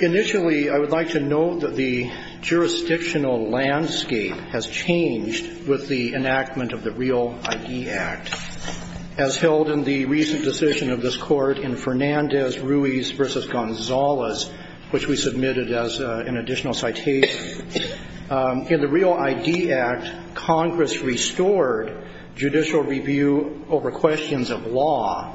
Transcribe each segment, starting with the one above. Initially, I would like to note that the jurisdictional landscape has changed with the enactment of the REAL ID Act. As held in the recent decision of this Court in Fernandez-Ruiz v. Gonzales, which we submitted as an additional citation, in the REAL ID Act, Congress restored judicial review over questions of law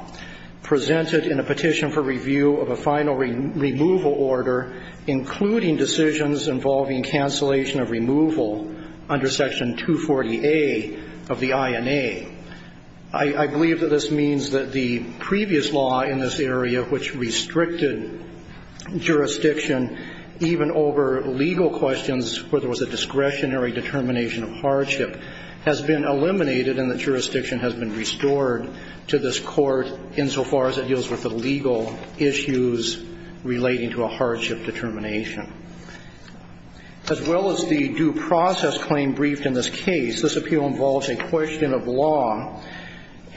presented in a Petition for Review of a Final Removal Order, including decisions involving cancellation of removal under Section 240A of the INA. I believe that this means that the previous law in this area, which restricted jurisdiction even over legal questions where there was a discretionary determination of hardship, has been eliminated and that jurisdiction has been restored to this Court insofar as it deals with the legal issues relating to a hardship determination. As well as the due process claim briefed in this case, this appeal involves a question of law,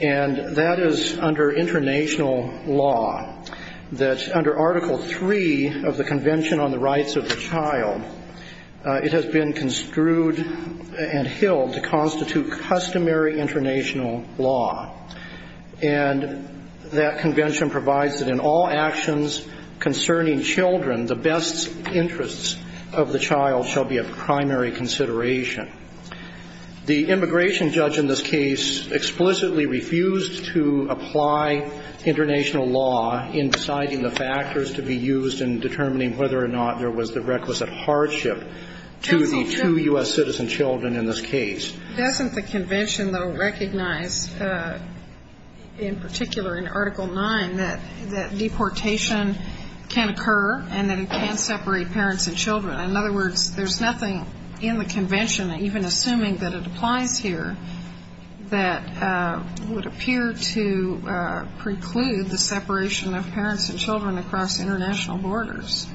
and that is under international law, that under Article III of the Convention on the Rights of the Child, it has been construed and held to constitute customary international law. And that convention provides that in all actions concerning children, the best interests of the child shall be of primary consideration. The immigration judge in this case explicitly refused to apply international law in deciding the factors to be used in determining whether or not there was the requisite hardship to the two U.S. citizen children in this case. Doesn't the convention, though, recognize, in particular in Article IX, that deportation can occur and that it can separate parents and children? In other words, there's nothing in the convention, even assuming that it applies here, that would appear to preclude the separation of parents and children across international borders.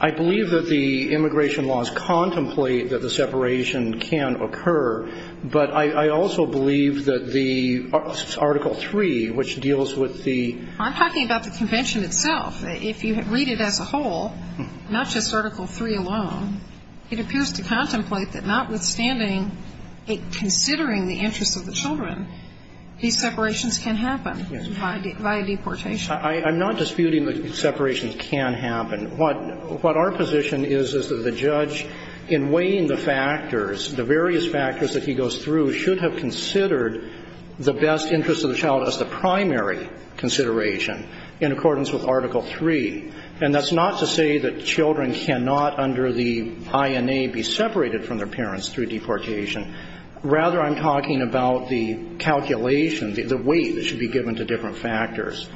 I believe that the immigration laws contemplate that the separation can occur, but I also believe that the Article III, which deals with the… I'm talking about the convention itself. If you read it as a whole, not just Article III alone, it appears to contemplate that notwithstanding it considering the interests of the children, these separations can happen via deportation. I'm not disputing that separations can happen. What our position is, is that the judge, in weighing the factors, the various factors that he goes through, should have considered the best interests of the child as the primary consideration in accordance with Article III. And that's not to say that children cannot, under the INA, be separated from their parents through deportation. Rather, I'm talking about the calculation, the weight that should be given to different factors.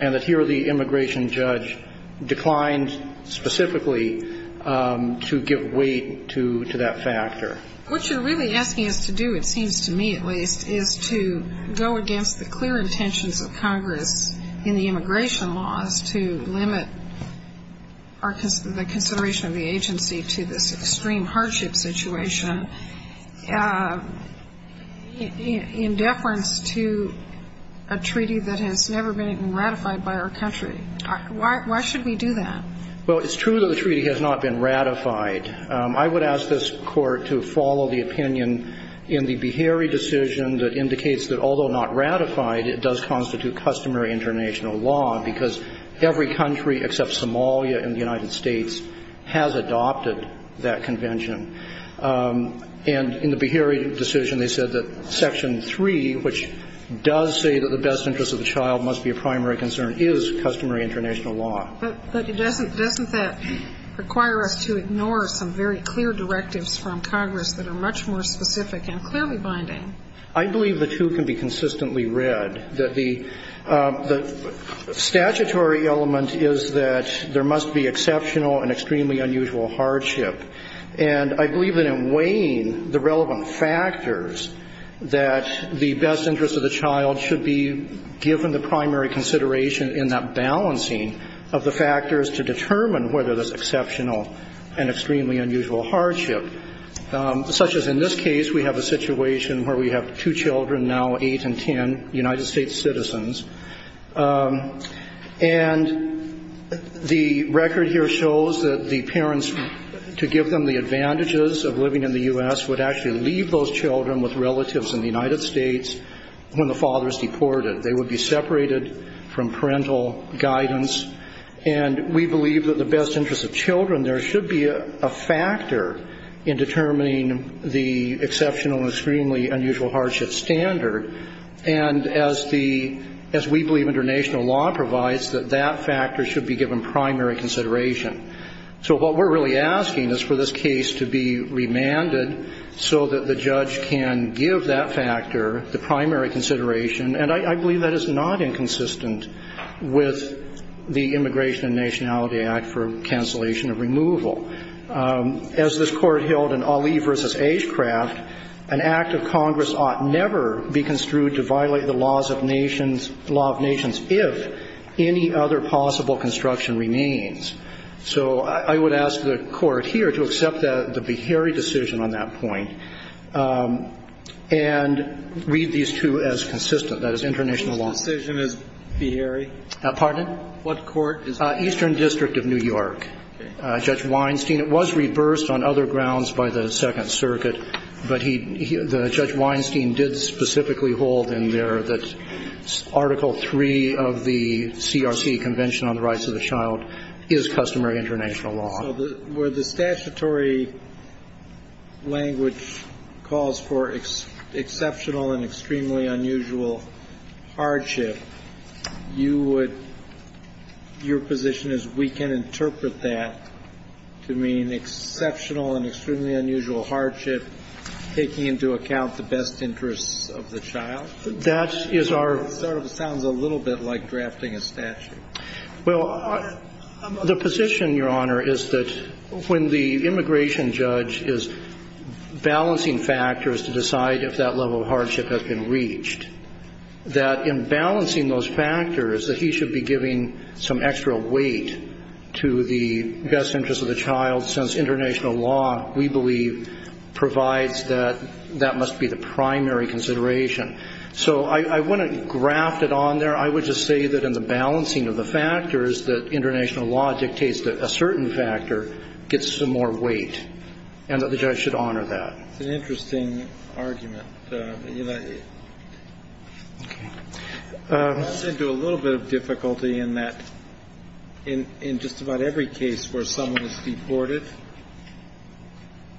And that here, the immigration judge declined specifically to give weight to that factor. What you're really asking us to do, it seems to me at least, is to go against the clear intentions of Congress in the immigration laws to limit the consideration of the agency to this extreme hardship situation in deference to a treaty that has never been ratified by our country. Why should we do that? Well, it's true that the treaty has not been ratified. I would ask this Court to follow the opinion in the Beharie decision that indicates that although not ratified, it does constitute customary international law, because every country except Somalia in the United States has adopted that convention. And in the Beharie decision, they said that Section III, which does say that the best interests of the child must be a primary concern, is customary international law. But doesn't that require us to ignore some very clear directives from Congress that are much more specific and clearly binding? I believe the two can be consistently read. The statutory element is that there must be exceptional and extremely unusual hardship. And I believe that in weighing the relevant factors that the best interests of the child should be given the primary consideration in that balancing of the factors to determine whether there's exceptional and extremely unusual hardship, such as in this case, we have a situation where we have two children now eight and ten United States citizens. And the record here shows that the parents to give them the advantages of living in the U.S. would actually leave those children with relatives in the United States when the father's deported. They would be separated from parental guidance. And we believe that the best interests of children, there should be a factor in determining the exceptional and extremely unusual hardship standard. And as the, as we believe international law provides, that that factor should be given primary consideration. So what we're really asking is for this case to be remanded so that the judge can give that factor the primary consideration. And I believe that is not inconsistent with the Immigration and Nationality Act for cancellation of removal. As this Court held in Ali v. Ashcraft, an act of Congress ought never be construed to violate the laws of nations, law of nations, if any other possible construction remains. So I would ask the Court here to accept the Beharry decision on that point and read these two as consistent. That is international law. The decision is Beharry? Pardon? What court is that? Eastern District of New York. Okay. Judge Weinstein, it was reversed on other grounds by the Second Circuit, but he, the Judge Weinstein did specifically hold in there that Article III of the CRC Convention on the Rights of the Child is customary international law. So where the statutory language calls for exceptional and extremely unusual hardship, you would – your position is we can interpret that to mean exceptional and extremely unusual hardship, taking into account the best interests of the child? That is our – It sort of sounds a little bit like drafting a statute. Well, the position, Your Honor, is that when the immigration judge is balancing factors to decide if that level of hardship has been reached, that in balancing those factors, that he should be giving some extra weight to the best interests of the child, since international law, we believe, provides that that must be the primary consideration. So I want to graft it on there. I would just say that in the balancing of the factors, that international law dictates that a certain factor gets some more weight, and that the judge should honor that. It's an interesting argument, Your Honor. I agree. Okay. It gets into a little bit of difficulty in that in just about every case where someone is deported,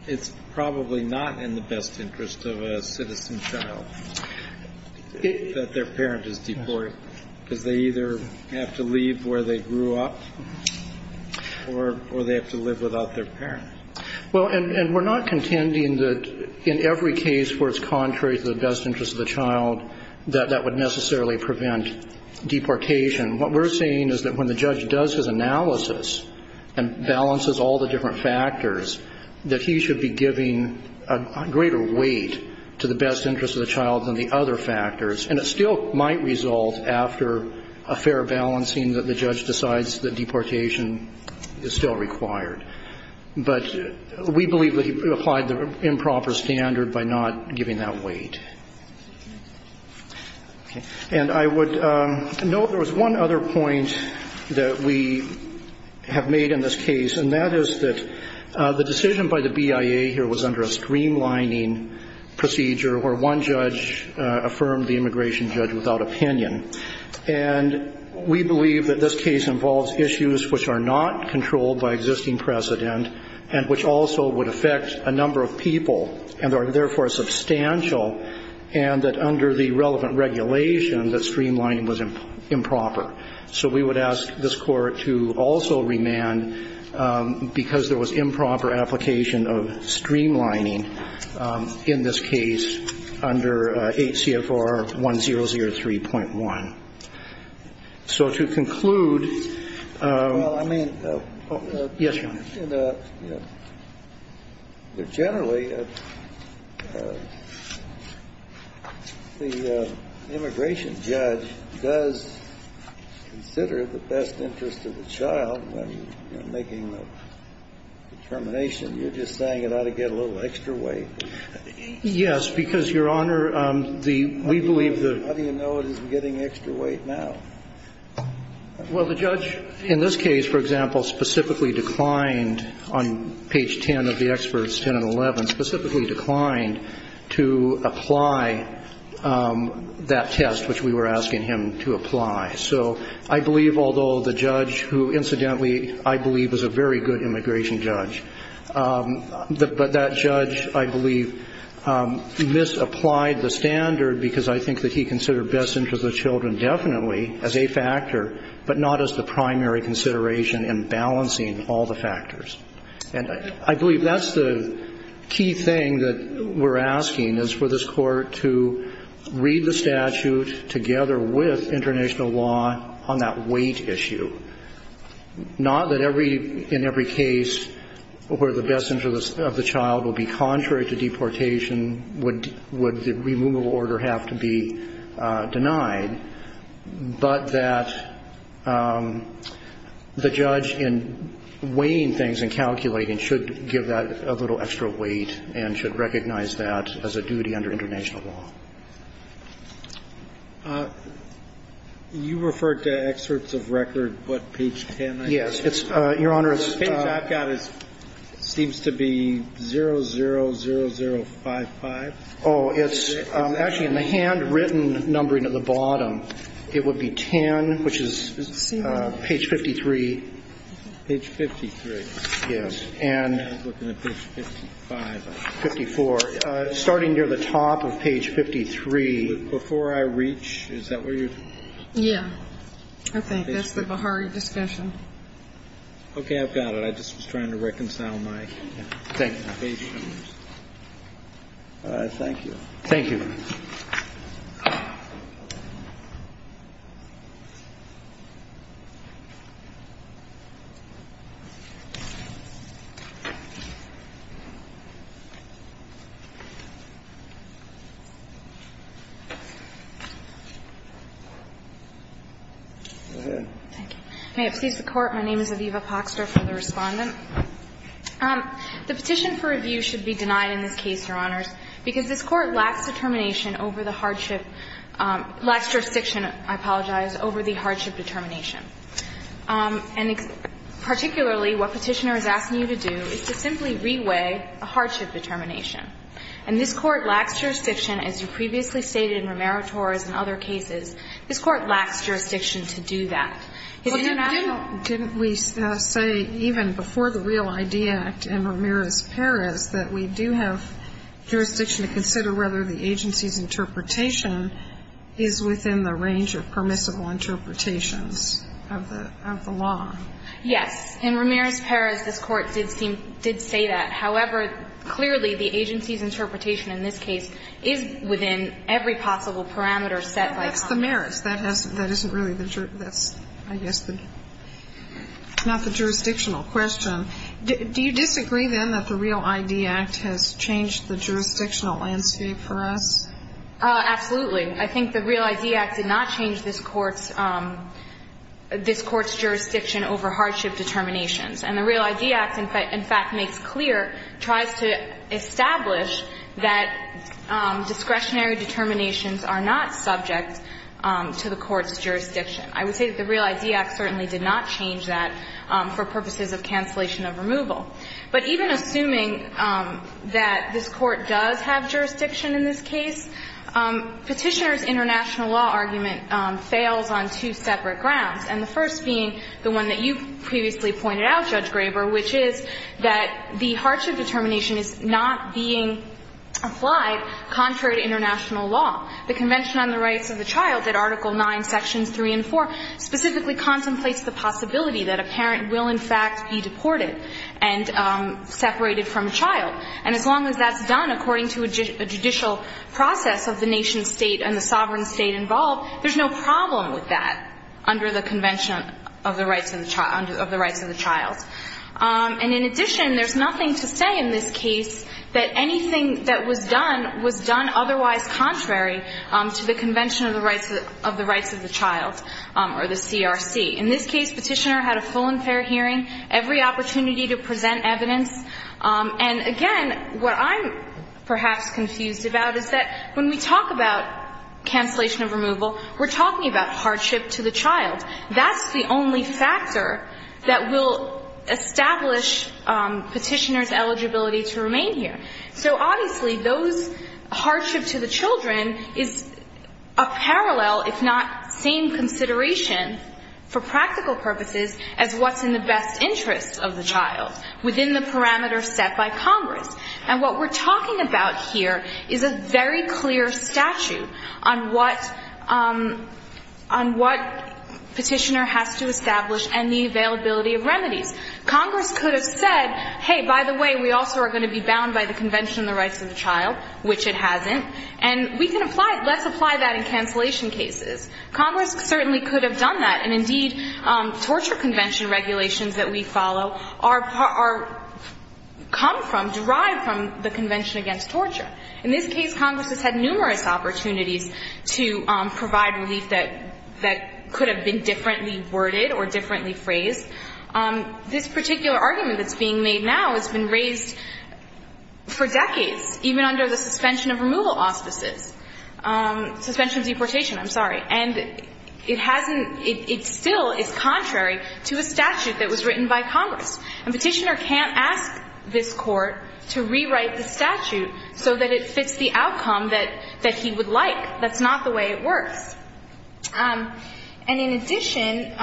it's probably not in the best interest of a citizen child that their parent is deported, because they either have to leave where they grew up, or they have to live without their parent. Well, and we're not contending that in every case where it's contrary to the best interest of the child, that that would necessarily prevent deportation. What we're saying is that when the judge does his analysis and balances all the different factors, that he should be giving a greater weight to the best interest of the child than the other factors, and it still might result after a fair balancing that the judge decides that deportation is still required. But we believe that he applied the improper standard by not giving that weight. Okay. And I would note there was one other point that we have made in this case, and that is that the decision by the BIA here was under a streamlining procedure where one judge affirmed the immigration judge without opinion. And we believe that this case involves issues which are not controlled by existing precedent, and which also would affect a number of people, and are therefore substantial, and that under the relevant regulation that streamlining was improper. So we would ask this Court to also remand, because there was improper application of streamlining in this case under 8 CFR 1003.1. So to conclude... Well, I mean... Yes, Your Honor. Generally, the immigration judge does consider the best interest of the child when making the determination. You're just saying it ought to get a little extra weight. Yes, because, Your Honor, the we believe the... How do you know it isn't getting extra weight now? Well, the judge in this case, for example, specifically declined on page 10 of the experts, 10 and 11, specifically declined to apply that test which we were asking him to apply. So I believe, although the judge who, incidentally, I believe was a very good immigration judge, but that judge, I believe, misapplied the standard because I believe that the best interest of the child is a factor, but not as the primary consideration in balancing all the factors. And I believe that's the key thing that we're asking is for this Court to read the statute together with international law on that weight issue. Not that every, in every case where the best interest of the child will be contrary to deportation would the removal order have to be denied, but that the judge in weighing things and calculating should give that a little extra weight and should recognize that as a duty under international law. You referred to experts of record, but page 10... Yes. Your Honor, it's... The page I've got seems to be 000055. Oh, it's actually in the handwritten numbering at the bottom. It would be 10, which is page 53. Page 53. Yes. And... I was looking at page 55. 54. Starting near the top of page 53. Before I reach, is that where you're... Yeah. I think that's the Bihari discussion. Okay. I've got it. I just was trying to reconcile my... Thank you. Thank you. Thank you. Go ahead. Thank you. May it please the Court. My name is Aviva Poxter. I'm the Respondent. The petition for review should be denied in this case, Your Honors, because this Court lacks determination over the hardship, lacks jurisdiction, I apologize, over the hardship determination. And particularly what Petitioner is asking you to do is to simply re-weigh a hardship determination. And this Court lacks jurisdiction, as you previously stated in Romero-Torres and other cases. This Court lacks jurisdiction to do that. Well, didn't we say even before the Real ID Act in Romero-Torres that we do have jurisdiction to consider whether the agency's interpretation is within the range of permissible interpretations of the law? Yes. In Romero-Torres, this Court did say that. However, clearly the agency's interpretation in this case is within every possible parameter set by Congress. That's the merits. That isn't really the jurisdiction. That's, I guess, not the jurisdictional question. Do you disagree, then, that the Real ID Act has changed the jurisdictional landscape for us? Absolutely. I think the Real ID Act did not change this Court's jurisdiction over hardship determinations. And the Real ID Act, in fact, makes clear, tries to establish that discretionary determinations are not subject to the Court's jurisdiction. I would say that the Real ID Act certainly did not change that for purposes of cancellation of removal. But even assuming that this Court does have jurisdiction in this case, Petitioner's international law argument fails on two separate grounds. And the first being the one that you previously pointed out, Judge Graber, which is that the hardship determination is not being applied contrary to international law. The Convention on the Rights of the Child, at Article IX, Sections 3 and 4, specifically contemplates the possibility that a parent will, in fact, be deported and separated from a child. And as long as that's done according to a judicial process of the nation-state and the sovereign state involved, there's no problem with that under the Convention of the Rights of the Child. And in addition, there's nothing to say in this case that anything that was done otherwise contrary to the Convention of the Rights of the Child or the CRC. In this case, Petitioner had a full and fair hearing, every opportunity to present evidence. And again, what I'm perhaps confused about is that when we talk about cancellation of removal, we're talking about hardship to the child. That's the only factor that will establish Petitioner's eligibility to remain here. So obviously, those hardship to the children is a parallel, if not same, consideration for practical purposes as what's in the best interest of the child within the parameters set by Congress. And what we're talking about here is a very clear statute on what Petitioner has to establish and the availability of remedies. Congress could have said, hey, by the way, we also are going to be bound by the Convention of the Rights of the Child, which it hasn't. And we can apply it. Let's apply that in cancellation cases. Congress certainly could have done that. And indeed, torture convention regulations that we follow are come from, derived from the Convention Against Torture. In this case, Congress has had numerous opportunities to provide relief that this particular argument that's being made now has been raised for decades, even under the suspension of removal auspices. Suspension of deportation, I'm sorry. And it hasn't, it still is contrary to a statute that was written by Congress. And Petitioner can't ask this Court to rewrite the statute so that it fits the outcome that he would like. That's not the way it works. And in addition,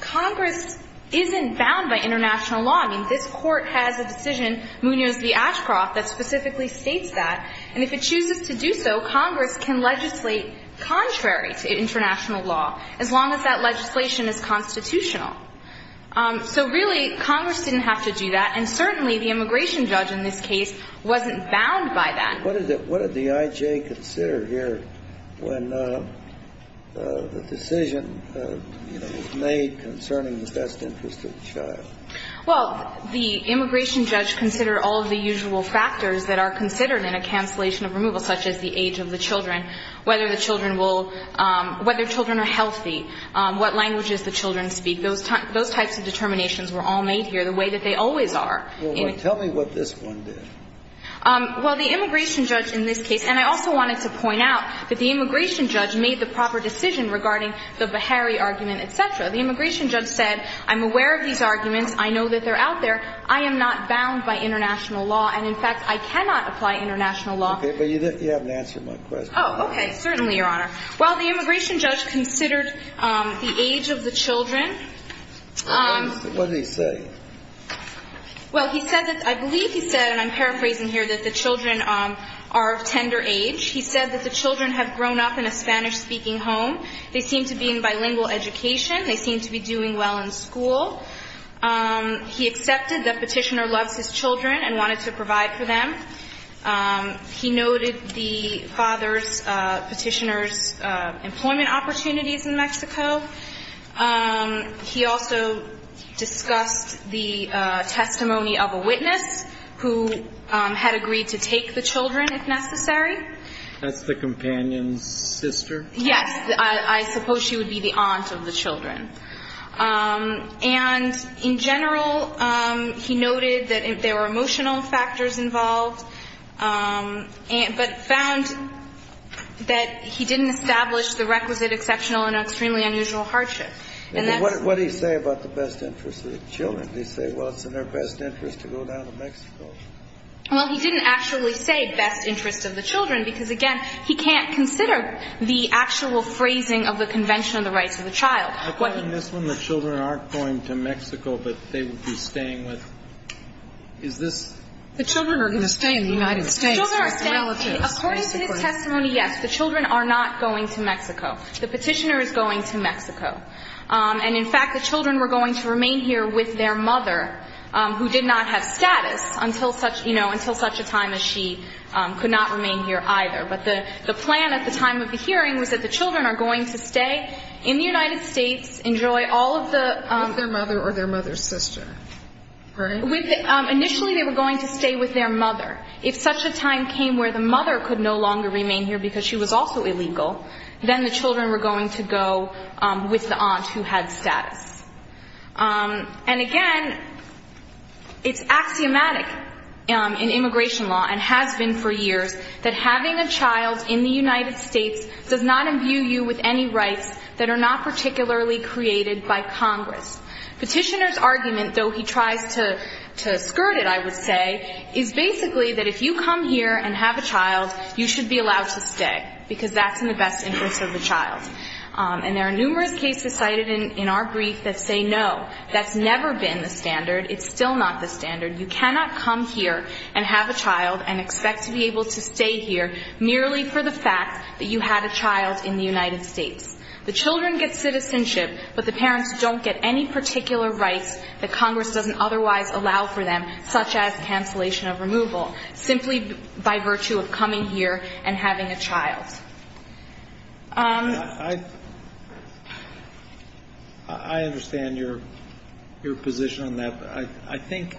Congress isn't bound by international law. I mean, this Court has a decision, Munoz v. Ashcroft, that specifically states that. And if it chooses to do so, Congress can legislate contrary to international law, as long as that legislation is constitutional. So really, Congress didn't have to do that. And certainly, the immigration judge in this case wasn't bound by that. What did the I.J. consider here when the decision, you know, was made concerning the best interest of the child? Well, the immigration judge considered all of the usual factors that are considered in a cancellation of removal, such as the age of the children, whether the children will, whether children are healthy, what languages the children speak. Those types of determinations were all made here the way that they always are. Well, tell me what this one did. Well, the immigration judge in this case, and I also wanted to point out that the immigration judge made the proper decision regarding the Beharry argument, et cetera. The immigration judge said, I'm aware of these arguments. I know that they're out there. I am not bound by international law. And in fact, I cannot apply international law. Okay. But you haven't answered my question. Oh, okay. Certainly, Your Honor. Well, the immigration judge considered the age of the children. What did he say? Well, he said that, I believe he said, and I'm paraphrasing here, that the children are of tender age. He said that the children have grown up in a Spanish-speaking home. They seem to be in bilingual education. They seem to be doing well in school. He accepted that Petitioner loves his children and wanted to provide for them. He noted the father's Petitioner's employment opportunities in Mexico. He also discussed the testimony of a witness who had agreed to take the children, if necessary. That's the companion's sister? Yes. I suppose she would be the aunt of the children. And in general, he noted that there were emotional factors involved, but found that he didn't establish the requisite exceptional and extremely unusual hardship. What did he say about the best interest of the children? Did he say, well, it's in their best interest to go down to Mexico? Well, he didn't actually say best interest of the children, because, again, he can't consider the actual phrasing of the Convention on the Rights of the Child. According to this one, the children aren't going to Mexico, but they would be staying with, is this? The children are going to stay in the United States. According to his testimony, yes, the children are not going to Mexico. The Petitioner is going to Mexico. And in fact, the children were going to remain here with their mother, who did not have status until such a time as she could not remain here either. But the plan at the time of the hearing was that the children are going to stay in the United States, enjoy all of the... With their mother or their mother's sister, right? Initially, they were going to stay with their mother. If such a time came where the mother could no longer remain here because she was also illegal, then the children were going to go with the aunt who had status. And again, it's axiomatic in immigration law and has been for years that having a child in the United States does not imbue you with any rights that are not particularly created by Congress. Petitioner's argument, though he tries to skirt it, I would say, is basically that if you come here and have a child, you should be allowed to stay because that's in the best interest of the child. And there are numerous cases cited in our brief that say no, that's never been the standard. It's still not the standard. You cannot come here and have a child and expect to be able to stay here merely for the fact that you had a child in the United States. The children get citizenship, but the parents don't get any particular rights that Congress doesn't otherwise allow for them, such as cancellation of removal, simply by virtue of coming here and having a child. I understand your position on that, but I think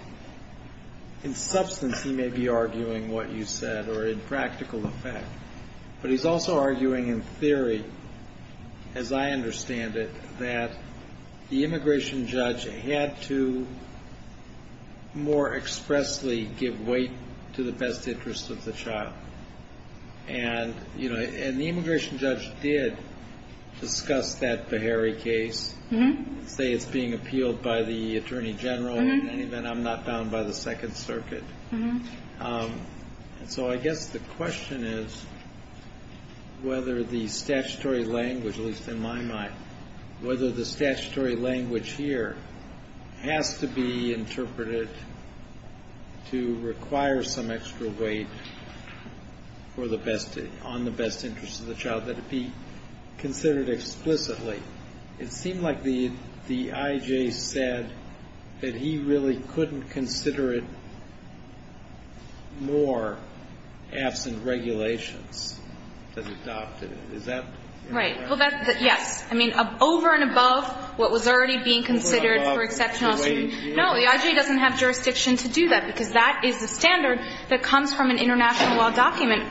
in substance he may be arguing what you said or in practical effect. But he's also arguing in theory, as I understand it, that the immigration judge had to more expressly give weight to the best interest of the child. And the immigration judge did discuss that Beharry case, say it's being appealed by the Attorney General. In any event, I'm not bound by the Second Circuit. So I guess the question is whether the statutory language, at least in my mind, whether the statutory language here has to be interpreted to require some extra weight on the best interest of the child, that it be considered explicitly. It seemed like the I.J. said that he really couldn't consider it more absent regulations that adopted it. Is that correct? Right. Well, that's yes. I mean, over and above what was already being considered for exceptional assuming. No, the I.J. doesn't have jurisdiction to do that, because that is the standard that comes from an international law document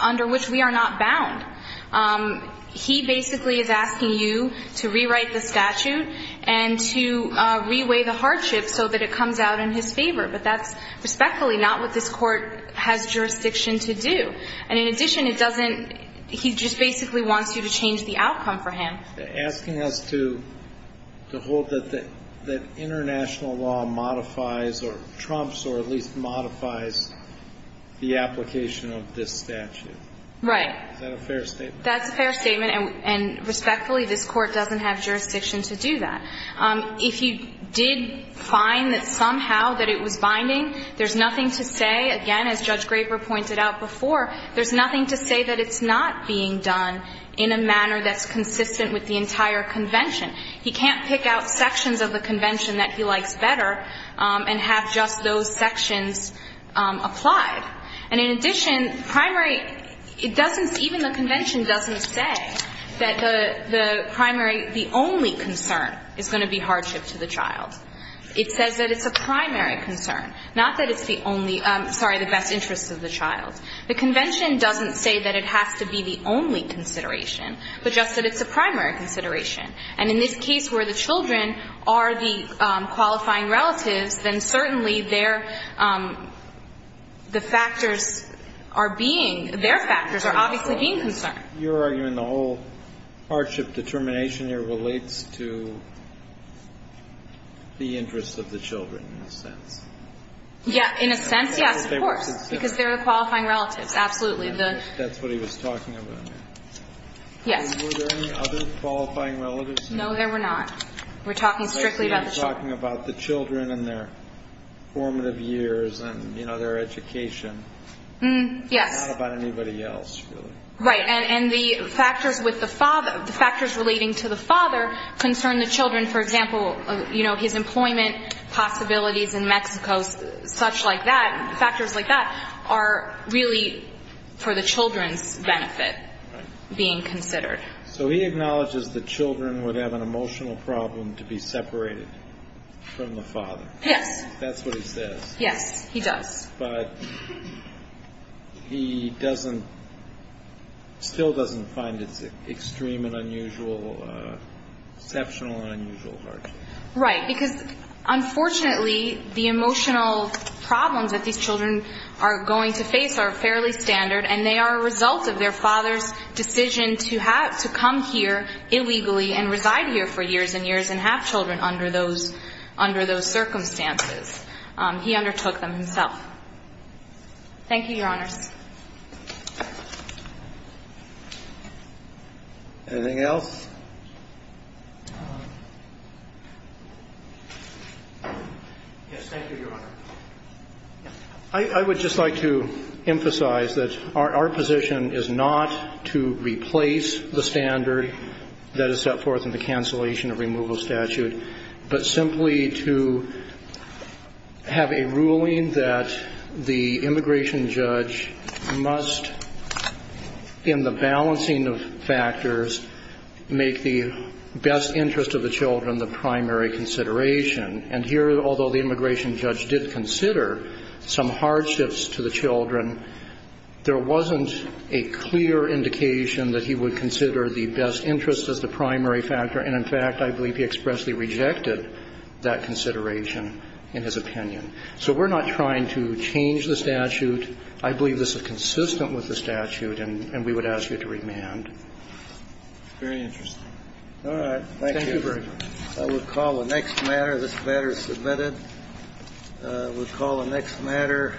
under which we are not bound. He basically is asking you to rewrite the statute and to reweigh the hardship so that it comes out in his favor. But that's respectfully not what this court has jurisdiction to do. And in addition, it doesn't, he just basically wants you to change the outcome for him. Asking us to hold that international law modifies or trumps or at least modifies the application of this statute. Right. Is that a fair statement? That's a fair statement. And respectfully, this court doesn't have jurisdiction to do that. If you did find that somehow that it was binding, there's nothing to say. Again, as Judge Graper pointed out before, there's nothing to say that it's not being done in a manner that's consistent with the entire convention. He can't pick out sections of the convention that he likes better and have just those sections applied. And in addition, primary, it doesn't, even the convention doesn't say that the primary, the only concern is going to be hardship to the child. It says that it's a primary concern, not that it's the only, sorry, the best interest of the child. The convention doesn't say that it has to be the only consideration, but just that it's a primary consideration. And in this case where the children are the qualifying relatives, then certainly their, the factors are being, their factors are obviously being concerned. You're arguing the whole hardship determination here relates to the interest of the children in a sense. Yeah, in a sense, yes, of course, because they're the qualifying relatives, absolutely. That's what he was talking about. Yes. Were there any other qualifying relatives? No, there were not. We're talking strictly about the children. We're talking about the children and their formative years and, you know, their education. Yes. Not about anybody else really. Right, and the factors with the father, the factors relating to the father concern the children, for example, you know, his employment possibilities in Mexico, such like that, factors like that are really for the children's benefit being considered. So he acknowledges the children would have an emotional problem to be separated from the father. Yes. That's what he says. Yes, he does. But he doesn't, still doesn't find it extreme and unusual, exceptional and unusual hardship. Right, because unfortunately the emotional problems that these children are going to face are fairly standard and they are a result of their father's decision to come here illegally and reside here for years and years and have children under those circumstances. He undertook them himself. Thank you, Your Honors. Anything else? Yes, thank you, Your Honor. I would just like to emphasize that our position is not to replace the standard that is set forth in the cancellation of removal statute, but simply to have a ruling that the immigration judge must, in the balancing of factors, make the best interest of the children the primary consideration. And here, although the immigration judge did consider some hardships to the children, he did not make the best interest as the primary factor. And, in fact, I believe he expressly rejected that consideration in his opinion. So we're not trying to change the statute. I believe this is consistent with the statute, and we would ask you to remand. Very interesting. All right. Thank you. Thank you very much. I would call the next matter. This matter is submitted. I would call the next matter.